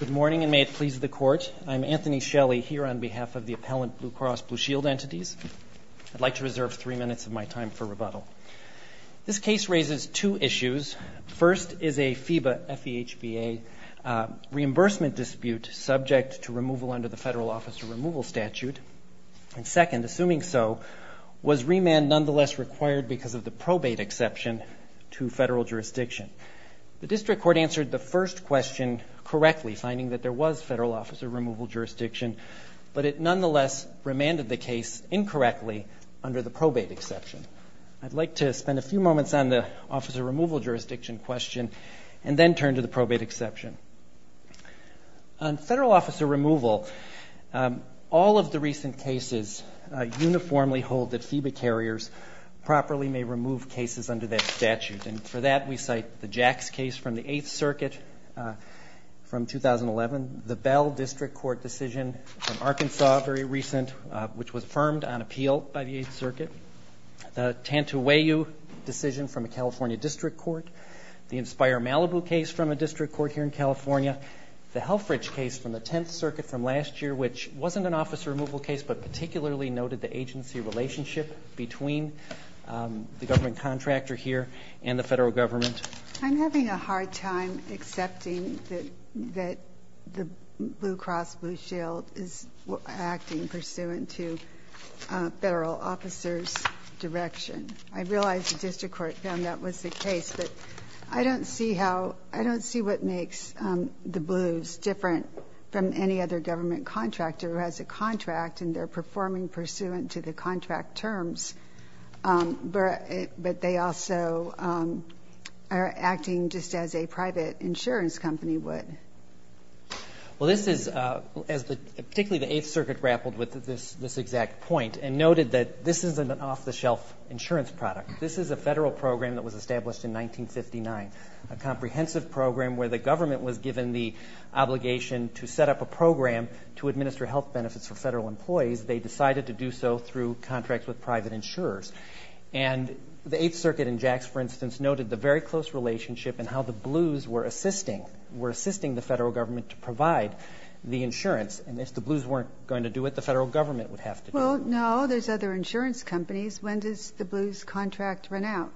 Good morning and may it please the Court. I'm Anthony Shelley here on behalf of the appellant Blue Cross Blue Shield entities. I'd like to reserve three minutes of my time for rebuttal. This case raises two issues. First is a FEBA, F-E-H-B-A reimbursement dispute subject to removal under the Federal Office of Removal Statute. And second, assuming so, was remand nonetheless required because of the probate exception to federal jurisdiction? The district court answered the first question correctly, finding that there was federal officer removal jurisdiction, but it nonetheless remanded the case incorrectly under the probate exception. I'd like to spend a few moments on the officer removal jurisdiction question and then turn to the probate exception. On federal officer removal, all of the recent cases uniformly hold that FEBA carriers properly may remove cases under that statute. And for that, we cite the Jacks case from the Eighth Circuit from 2011, the Bell District Court decision from Arkansas very recent, which was firmed on appeal by the Eighth Circuit, the Tantu-Weyu decision from a California district court, the Inspire-Malibu case from a district court here in California, the Helfrich case from the Tenth Circuit from last year, which wasn't an officer removal case, but particularly noted the agency relationship between the government contractor here and the federal government. I'm having a hard time accepting that the Blue Cross Blue Shield is acting pursuant to federal officers' direction. I realize the district court found that was the case, but I don't see how – I don't see what makes the Blues different from any other government contractor who has a contract and they're performing pursuant to the contract terms, but they also are acting just as a private insurance company would. Well, this is – as the – particularly the Eighth Circuit grappled with this exact point and noted that this isn't an off-the-shelf insurance product. This is a federal program that was established in 1959, a comprehensive program where the government was given the obligation to set up a program to administer health benefits for federal employees. They decided to do so through contracts with private insurers. And the Eighth Circuit in Jax, for instance, noted the very close relationship and how the Blues were assisting – were assisting the federal government to provide the insurance. And if the Blues weren't going to do it, the federal government would have to do it. Well, no. There's other insurance companies. When does the Blues' contract run out?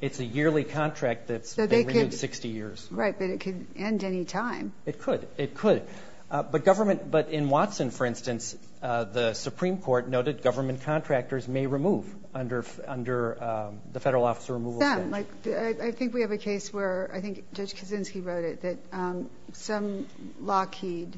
It's a yearly contract that's – they renewed 60 years. Right, but it could end any time. It could. It could. But government – but in Watson, for instance, the Supreme Court noted government contractors may remove under the Federal Officer Removal Statute. Some. Like, I think we have a case where – I think Judge Kaczynski wrote it – that some Lockheed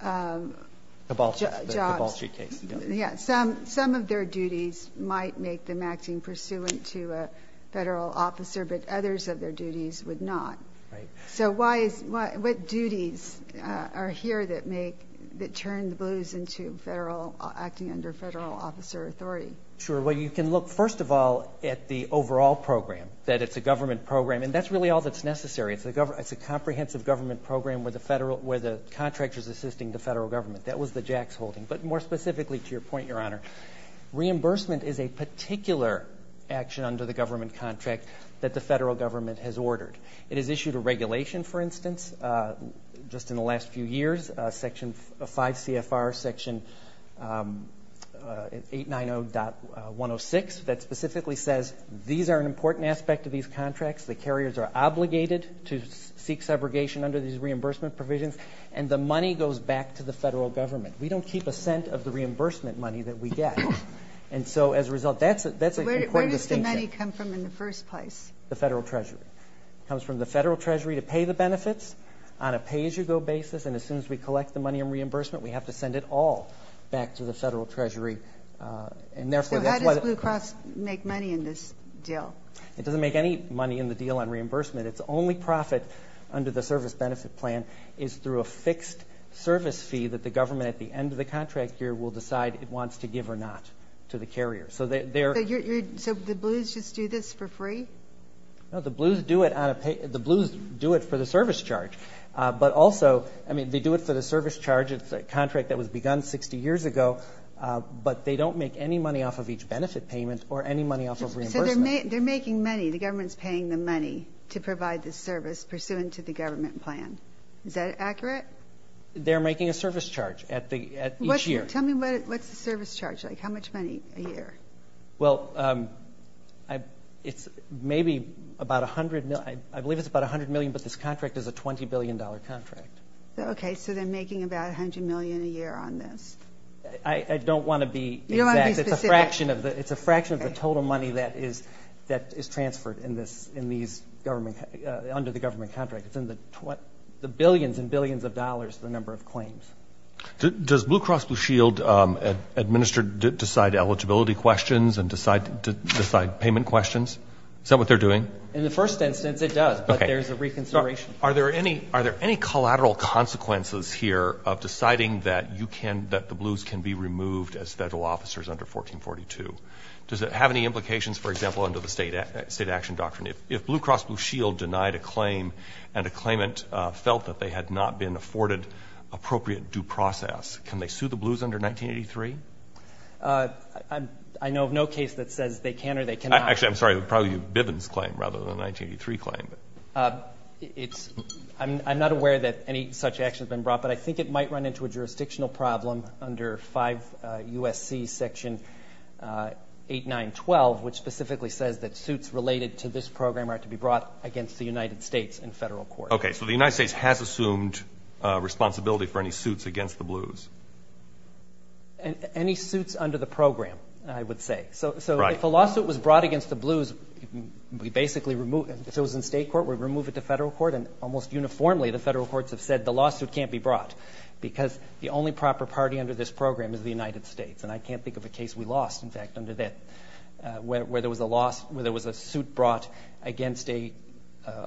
– Kibalski. The Kibalski case. Yeah. Some of their duties might make them acting pursuant to a federal officer, but others of their duties would not. Right. So why is – what duties are here that make – that turn the Blues into federal – acting under federal officer authority? Sure. Well, you can look, first of all, at the overall program, that it's a government program. And that's really all that's necessary. It's a comprehensive government program where the federal – where the contractor's assisting the federal government. That was the Jacks holding. But more specifically, to your point, Your Honor, reimbursement is a particular action under the government contract that the federal government has ordered. It has issued a regulation, for instance, just in the last few years, Section 5 CFR, Section 890.106, that specifically says these are an important aspect of these contracts. The carriers are obligated to seek segregation under these reimbursement provisions, and the money goes back to the federal government. We don't keep a cent of the reimbursement money that we get. And so, as a result, that's a – that's an important distinction. Where does the money come from in the first place? The federal treasury. It comes from the federal treasury to pay the benefits on a pay-as-you-go basis, and as soon as we collect the money in reimbursement, we have to send it all back to the federal treasury. And therefore, that's why the – So how does Blue Cross make money in this deal? It doesn't make any money in the deal on reimbursement. Its only profit under the service benefit plan is through a fixed service fee that the government at the end of the contract year will decide it wants to give or not to the carrier. So they're – So you're – so the Blues just do this for free? No, the Blues do it on a – the Blues do it for the service charge. But also, I mean, they do it for the service charge. It's a contract that was begun 60 years ago, but they don't make any money off of each benefit payment or any money off of reimbursement. So they're making money – the government's paying the money to provide the service pursuant to the government plan. Is that accurate? They're making a service charge at the – at each year. What's – tell me what's the service charge, like how much money a year? Well, I – it's maybe about 100 – I believe it's about 100 million, but this contract is a $20 billion contract. Okay, so they're making about 100 million a year on this. I don't want to be exact. You don't want to be specific. It's a fraction of the – it's a fraction of the total money that is – that is transferred in this – in these government – under the government contract. It's in the billions and billions of dollars, the number of claims. Does Blue Cross Blue Shield administer – decide eligibility questions and decide – decide payment questions? Is that what they're doing? In the first instance, it does. Okay. But there's a reconsideration. Are there any – are there any collateral consequences here of deciding that you can that the blues can be removed as federal officers under 1442? Does it have any implications, for example, under the state – state action doctrine? If Blue Cross Blue Shield denied a claim and a claimant felt that they had not been afforded appropriate due process, can they sue the blues under 1983? I know of no case that says they can or they cannot. Actually, I'm sorry, probably Bivens' claim rather than a 1983 claim. It's – I'm not aware that any such action has been brought, but I think it might run into a jurisdictional problem under 5 U.S.C. section 8912, which specifically says that suits related to this program are to be brought against the United States in federal court. Okay. So the United States has assumed responsibility for any suits against the blues. Any suits under the program, I would say. Right. So if a lawsuit was brought against the blues, we basically remove – if it was in state court, we remove it to federal court. And almost uniformly, the federal courts have said the lawsuit can't be brought because the only proper party under this program is the United States. And I can't think of a case we lost, in fact, under that – where there was a lawsuit brought against a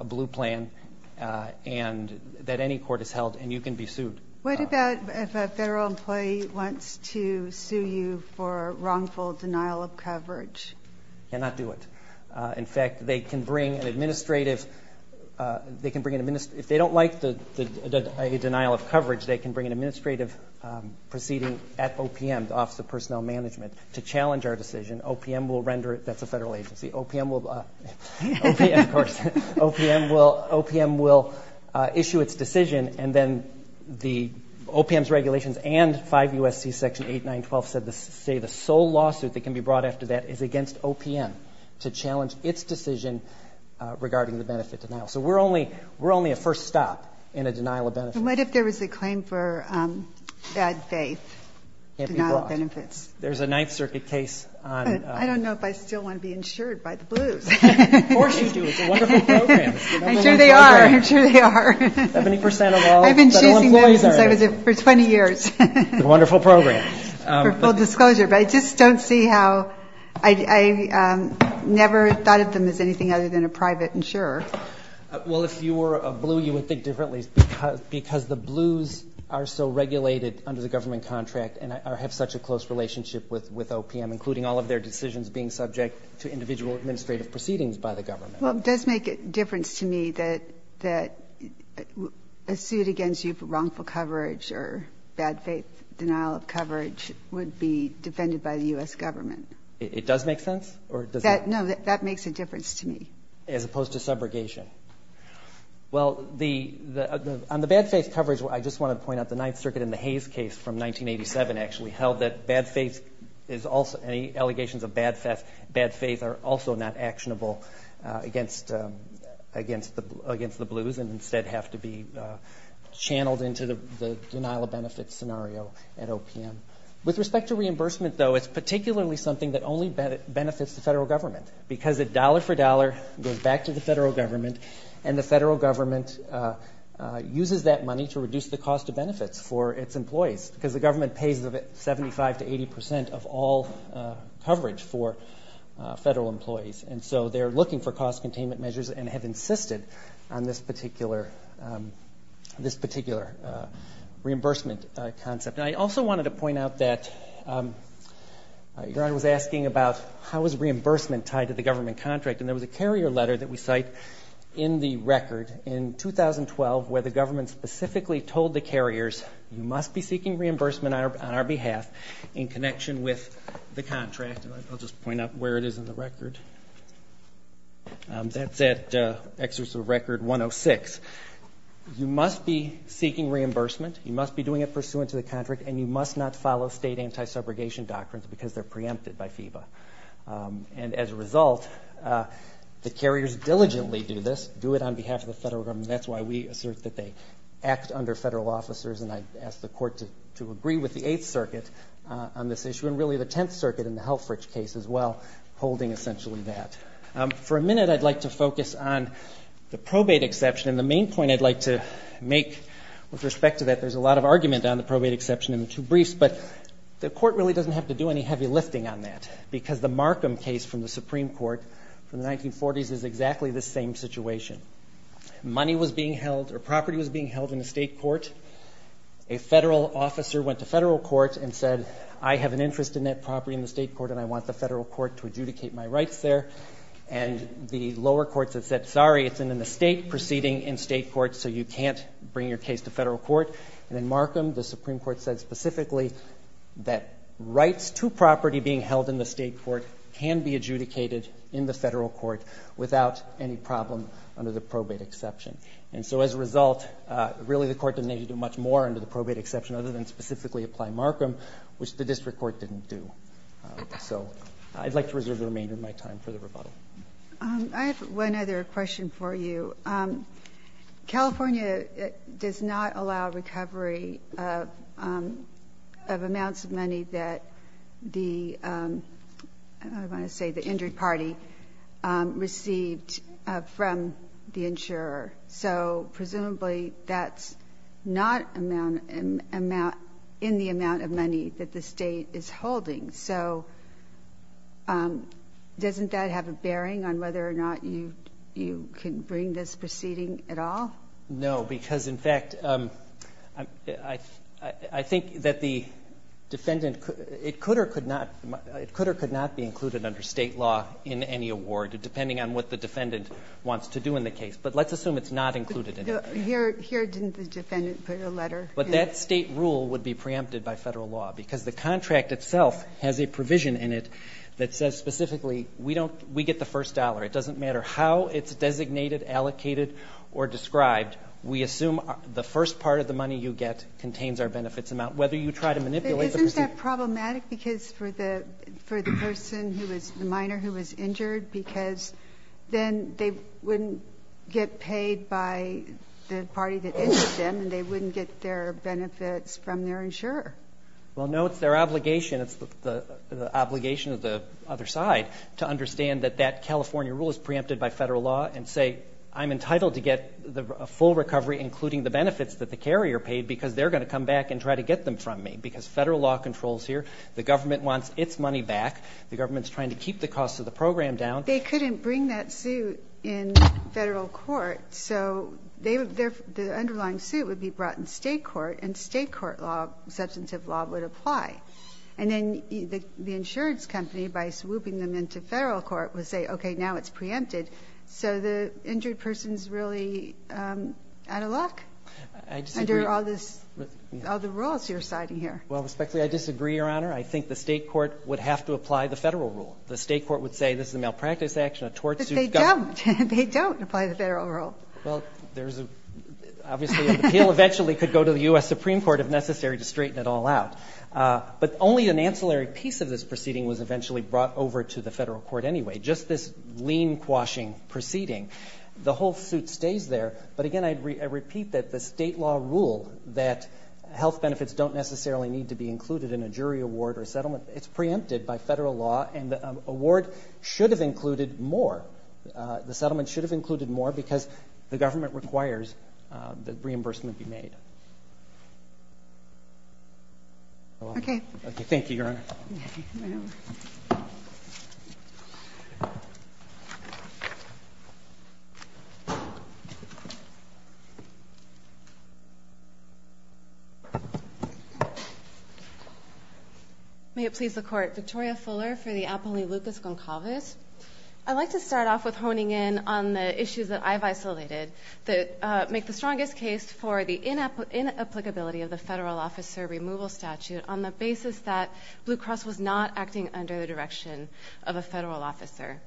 blue plan and that any court has held and you can be sued. What about if a federal employee wants to sue you for wrongful denial of coverage? Cannot do it. In fact, they can bring an administrative – they can bring an – if they don't like the denial of coverage, they can bring an administrative proceeding at OPM, the Office of Personnel Management, to challenge our decision. OPM will render it – that's a federal agency. OPM will – OPM, of course. OPM will issue its decision and then the – OPM's regulations and 5 U.S.C. section 8912 say the sole lawsuit that can be brought after that is against OPM to challenge its decision regarding the benefit denial. So we're only – we're only a first stop in a denial of benefit. And what if there was a claim for bad faith denial of benefits? There's a Ninth Circuit case on – I don't know if I still want to be insured by the blues. Of course you do. It's a wonderful program. I'm sure they are. I'm sure they are. Seventy percent of all – I've been choosing them since I was – for 20 years. It's a wonderful program. For full disclosure. But I just don't see how – I never thought of them as anything other than a private insurer. Well, if you were a blue, you would think differently because the blues are so regulated under the government contract and have such a close relationship with OPM, including all of their decisions being subject to individual administrative proceedings by the government. Well, it does make a difference to me that a suit against you for wrongful coverage or bad faith denial of coverage would be defended by the U.S. government. It does make sense? Or does it – No, that makes a difference to me. As opposed to subrogation. Well, the – on the bad faith coverage, I just want to point out the Ninth Circuit and the Hayes case from 1987 actually held that bad faith is also – any allegations of bad faith are also not actionable against the blues and instead have to be channeled into the denial of benefit scenario at OPM. With respect to reimbursement, though, it's particularly something that only benefits the federal government because it dollar for dollar goes back to the federal government and the federal government uses that money to reduce the cost of benefits for its employees because the government pays 75 to 80 percent of all coverage for federal employees. And so they're looking for cost containment measures and have insisted on this particular reimbursement concept. I also wanted to point out that your Honor was asking about how is reimbursement tied to the government contract. And there was a carrier letter that we cite in the record in 2012 where the government specifically told the carriers, you must be seeking reimbursement on our behalf in connection with the contract. I'll just point out where it is in the record. That's at Excerpt of Record 106. You must be seeking reimbursement. You must be doing it pursuant to the contract and you must not follow state anti-subrogation doctrines because they're preempted by FEBA. And as a result, the carriers diligently do this, do it on behalf of the federal government. That's why we assert that they act under federal officers and I ask the court to agree with the Eighth Circuit on this issue and really the Tenth Circuit in the Helfrich case as well, holding essentially that. For a minute, I'd like to focus on the probate exception and the main point I'd like to make with respect to that. There's a lot of argument on the probate exception in the two briefs, but the court really doesn't have to do any heavy lifting on that because the Markham case from the Supreme Court from the 1940s is exactly the same situation. Money was being held or property was being held in the state court. A federal officer went to federal court and said, I have an interest in that property in the state court and I want the federal court to adjudicate my rights there. And the lower courts have said, sorry, it's an estate proceeding in state court, so you can't bring your case to federal court. And in Markham, the Supreme Court said specifically that rights to property being held in the state court can be adjudicated in the federal court without any problem under the probate exception. And so as a result, really the court didn't need to do much more under the probate exception other than specifically apply Markham, which the district court didn't do. So I'd like to reserve the remainder of my time for the rebuttal. I have one other question for you. California does not allow recovery of amounts of money that the I want to say the injured party received from the insurer. So presumably that's not in the amount of money that the state is holding. So doesn't that have a bearing on whether or not you can bring this proceeding at all? No, because in fact I think that the defendant it could or could not be included under state law in any award, depending on what the defendant wants to do in the case. But let's assume it's not But that state rule would be preempted by federal law because the contract itself has a provision in it that says specifically we get the first dollar. It doesn't matter how it's designated, allocated or described. We assume the first part of the money you get contains our benefits amount, whether you try to manipulate the procedure. But isn't that problematic for the person, the minor who was injured because then they wouldn't get paid by the party that injured them and they wouldn't get their benefits from their insurer? Well no, it's their obligation. It's the obligation of the other side to understand that that California rule is preempted by federal law and say I'm entitled to get a full recovery including the benefits that the carrier paid because they're going to come back and try to get them from me. Because federal law controls here. The government wants its money back. The government's trying to keep the cost of the program down. They couldn't bring that suit in The underlying suit would be brought in state court and state court law substantive law would apply. And then the insurance company by swooping them into federal court would say okay now it's preempted so the injured person's really out of luck under all the rules you're citing here. Respectfully, I disagree, Your Honor. I think the state court would have to apply the federal rule. The state court would say this is a malpractice action, a tort suit. But they don't. They don't apply the federal rule. The appeal eventually could go to the U.S. Supreme Court if necessary to straighten it all out. But only an ancillary piece of this proceeding was eventually brought over to the federal court anyway. Just this lean-quashing proceeding. The whole suit stays there. But again I repeat that the state law rule that health benefits don't necessarily need to be included in a jury award or settlement it's preempted by federal law and the award should have included more. The settlement should have included more because the government requires that reimbursement be made. Thank you, Your Honor. May it please the Court. Victoria Fuller for the I'd like to start off with honing in on the issues that I've isolated that make the strongest case for the inapplicability of the federal officer removal statute on the basis that Blue Cross was not acting under the direction of a federal officer.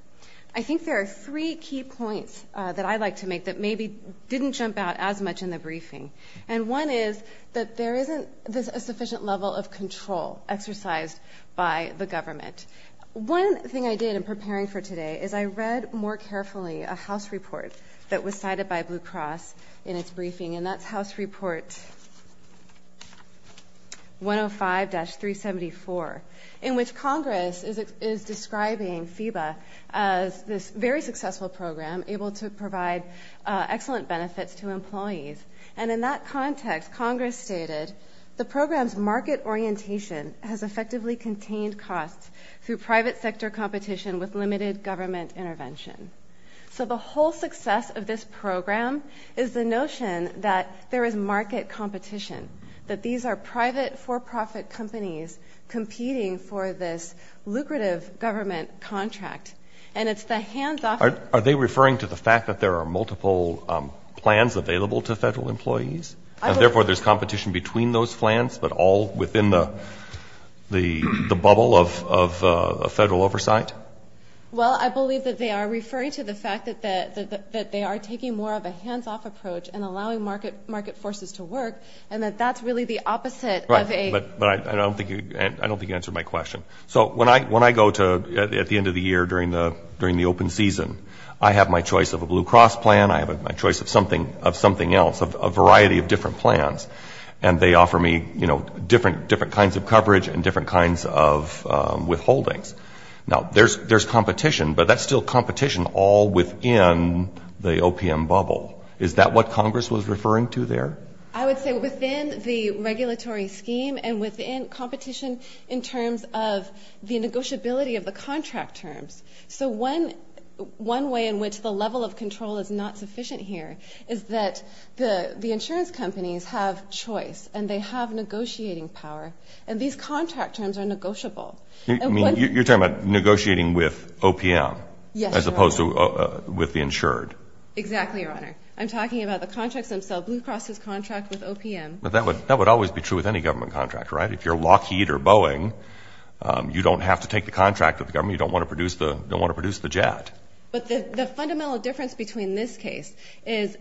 I think there are three key points that I'd like to make that maybe didn't jump out as much in the briefing. And one is that there isn't a sufficient level of control exercised by the government. One thing I did in preparing for today is I read more carefully a House report that was cited by Blue Cross in its briefing and that's House Report 105-374 in which Congress is describing FEBA as this very successful program able to provide excellent benefits to employees. And in that context Congress stated the program's market orientation has effectively contained costs through private sector competition with limited government intervention. So the whole success of this program is the notion that there is market competition. That these are private for-profit companies competing for this lucrative government contract. And it's the hands-off Are they referring to the fact that there are multiple plans available to federal employees? And therefore there's competition between those plans but all within the bubble of federal oversight? Well, I believe that they are referring to the fact that they are taking more of a hands-off approach and allowing market forces to work and that that's really the opposite of a I don't think you answered my question. So when I go to at the end of the year during the open season, I have my choice of a Blue Cross plan, I have my choice of something else, a variety of different plans and they offer me, you know, different kinds of coverage and different kinds of withholdings. Now there's competition, but that's still competition all within the OPM bubble. Is that what Congress was referring to there? I would say within the regulatory scheme and within competition in terms of the negotiability of the contract terms. So one way in which the level of control is not sufficient here is that the insurance companies have choice and they have negotiating power and these contract terms are negotiable. You're talking about negotiating with OPM as opposed to with the insured? Exactly, Your Honor. I'm talking about the contracts themselves. Blue Cross's contract with OPM. But that would always be true with any government contract, right? If you're Lockheed or Boeing, you don't have to take the contract with the government, you don't want to produce the jet. But the fundamental difference between this case is,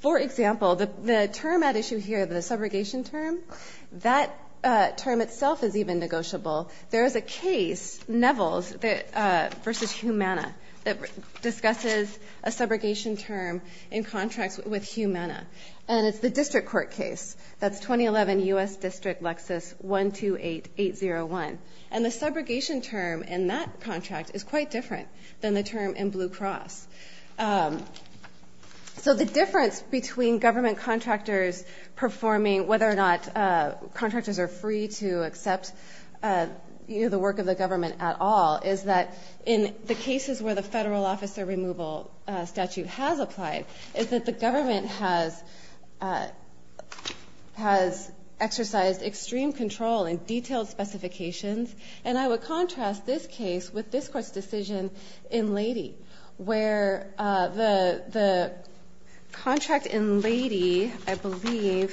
for example, the term at issue here, the subrogation term, that term itself is even negotiable. There is a case, Nevels v. Humana that discusses a subrogation term in contracts with Humana. And it's the district court case. That's 2011 U.S. District Lexus 128801. And the subrogation term in that contract is quite different than the term in Blue Cross. So the difference between government contractors performing, whether or not contractors are free to accept the work of the government at all is that in the cases where the federal officer removal statute has applied, is that the government has exercised extreme control and detailed specifications. And I would contrast this case with this court's decision in Lady, where the contract in Lady, I believe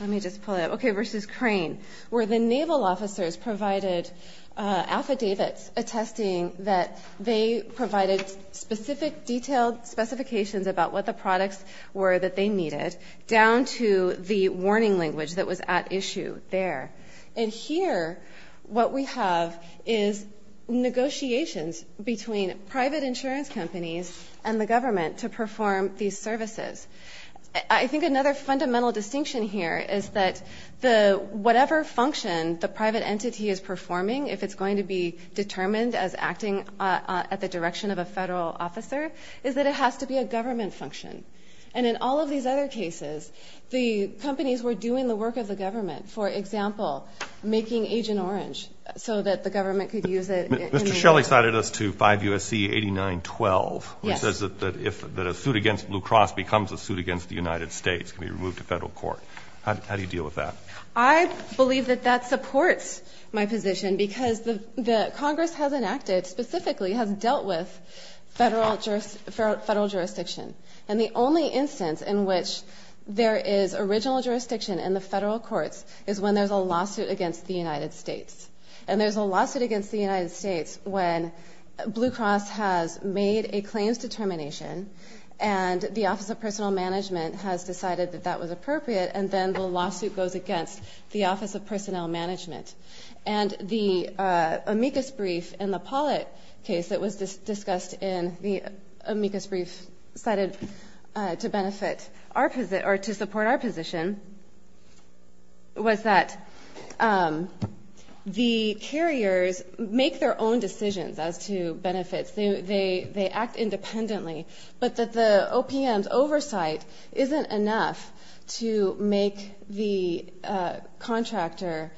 let me just pull it up, okay, versus Crane where the naval officers provided affidavits attesting that they provided specific detailed specifications about what the products were that they needed, down to the warning language that was at issue there. And here what we have is negotiations between private insurance companies and the government to perform these services. I think another fundamental distinction here is that whatever function the private entity is performing, if it's going to be determined as acting at the direction of a federal officer, is that it has to be a government function. And in all of these other cases, the companies were doing the work of the government. For example, making Agent Orange so that the government could use it. Mr. Shelley cited us to 5 U.S.C. 8912, which says that a suit against Blue Cross becomes a suit against the United States can be removed to federal court. How do you deal with that? I believe that that supports my position, because the Congress has enacted specifically, has dealt with federal jurisdiction. And the only instance in which there is original jurisdiction in the federal courts is when there's a lawsuit against the United States. And there's a lawsuit against the United States when Blue Cross has made a claims determination, and the Office of Personal Management has decided that that was appropriate, and then the lawsuit goes against the Office of Personnel Management. And the amicus brief in the Pollitt case that was discussed in the amicus brief cited to benefit our position, or to support our position, was that the carriers make their own decisions as to benefits. They act independently. But that the OPM's oversight isn't enough to make the contractor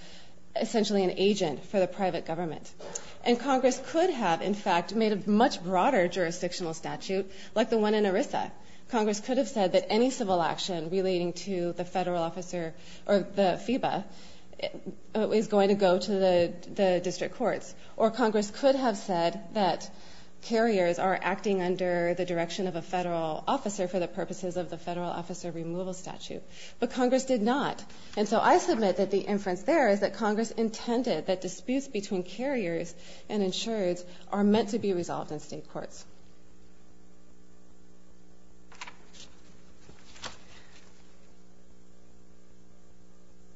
essentially an agent for the private government. And Congress could have, in fact, made a much broader jurisdictional statute, like the one in civil action relating to the federal officer, or the FEBA, is going to go to the district courts. Or Congress could have said that carriers are acting under the direction of a federal officer for the purposes of the federal officer removal statute. But Congress did not. And so I submit that the inference there is that Congress intended that disputes between carriers and insurers are meant to be resolved in state courts.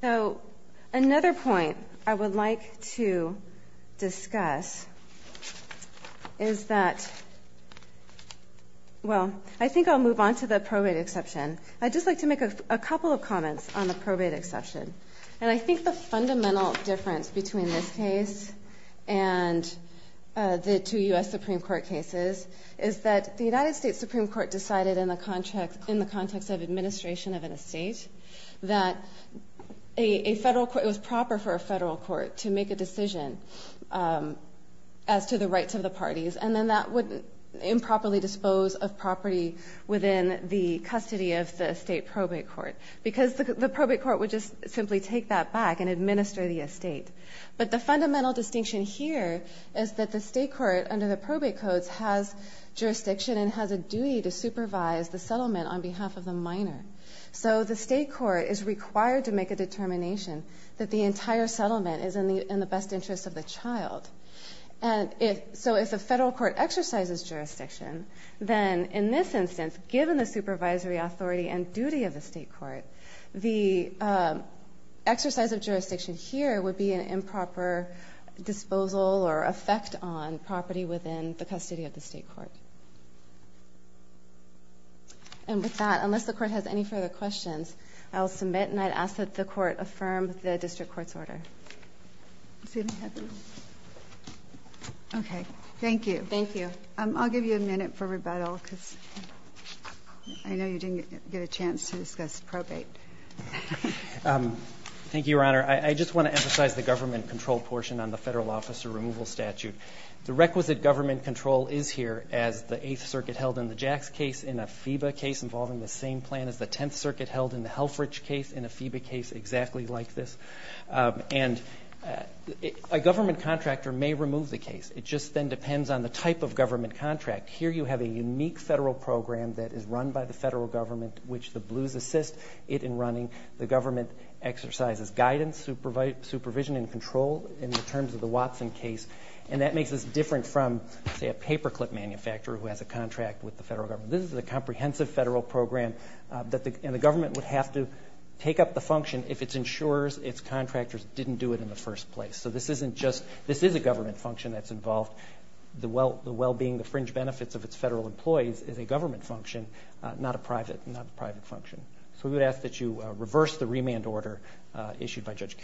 So another point I would like to discuss is that well, I think I'll move on to the probate exception. I'd just like to make a couple of comments on the probate exception. And I think the fundamental difference between this case and the two U.S. Supreme Court cases is that the United States Supreme Court decided in the context of administration of an estate that it was proper for a federal court to make a decision as to the rights of the parties. And then that would improperly dispose of property within the custody of the state probate court. Because the probate court would just simply take that back and administer the estate. But the fundamental distinction here is that the state court under the probate codes has jurisdiction and has a duty to supervise the settlement on behalf of the minor. So the state court is required to make a determination that the entire settlement is in the best interest of the child. And so if the federal court exercises jurisdiction, then in this instance, given the supervisory authority and duty of the state court, the exercise of jurisdiction here would be an improper disposal or effect on property within the custody of the state court. And with that, unless the court has any further questions, I'll submit and I'd ask that the court affirm the district court's order. Okay. Thank you. I'll give you a minute for rebuttal because I know you didn't get a chance to discuss probate. Thank you, Your Honor. I just want to emphasize the government control portion on the federal officer removal statute. The requisite government control is here as the Eighth Circuit held in the Jacks case in a FEBA case involving the same plan as the Tenth Circuit held in the Helfrich case in a FEBA case exactly like this. And a government contractor may remove the case. It just then depends on the type of government contract. Here you have a unique federal program that is run by the federal government which the Blues assist it in running. The government exercises guidance, supervision, and control in the terms of the Watson case. And that makes this different from, say, a paperclip manufacturer who has a contract with the federal government. This is a comprehensive federal program and the government would have to take up the function if its insurers, its contractors didn't do it in the first place. So this is a government function that's involved. The well-being, the fringe benefits of its federal employees is a government function, not a private function. So we would ask that you support this bill as it's being issued by Judge Curiel.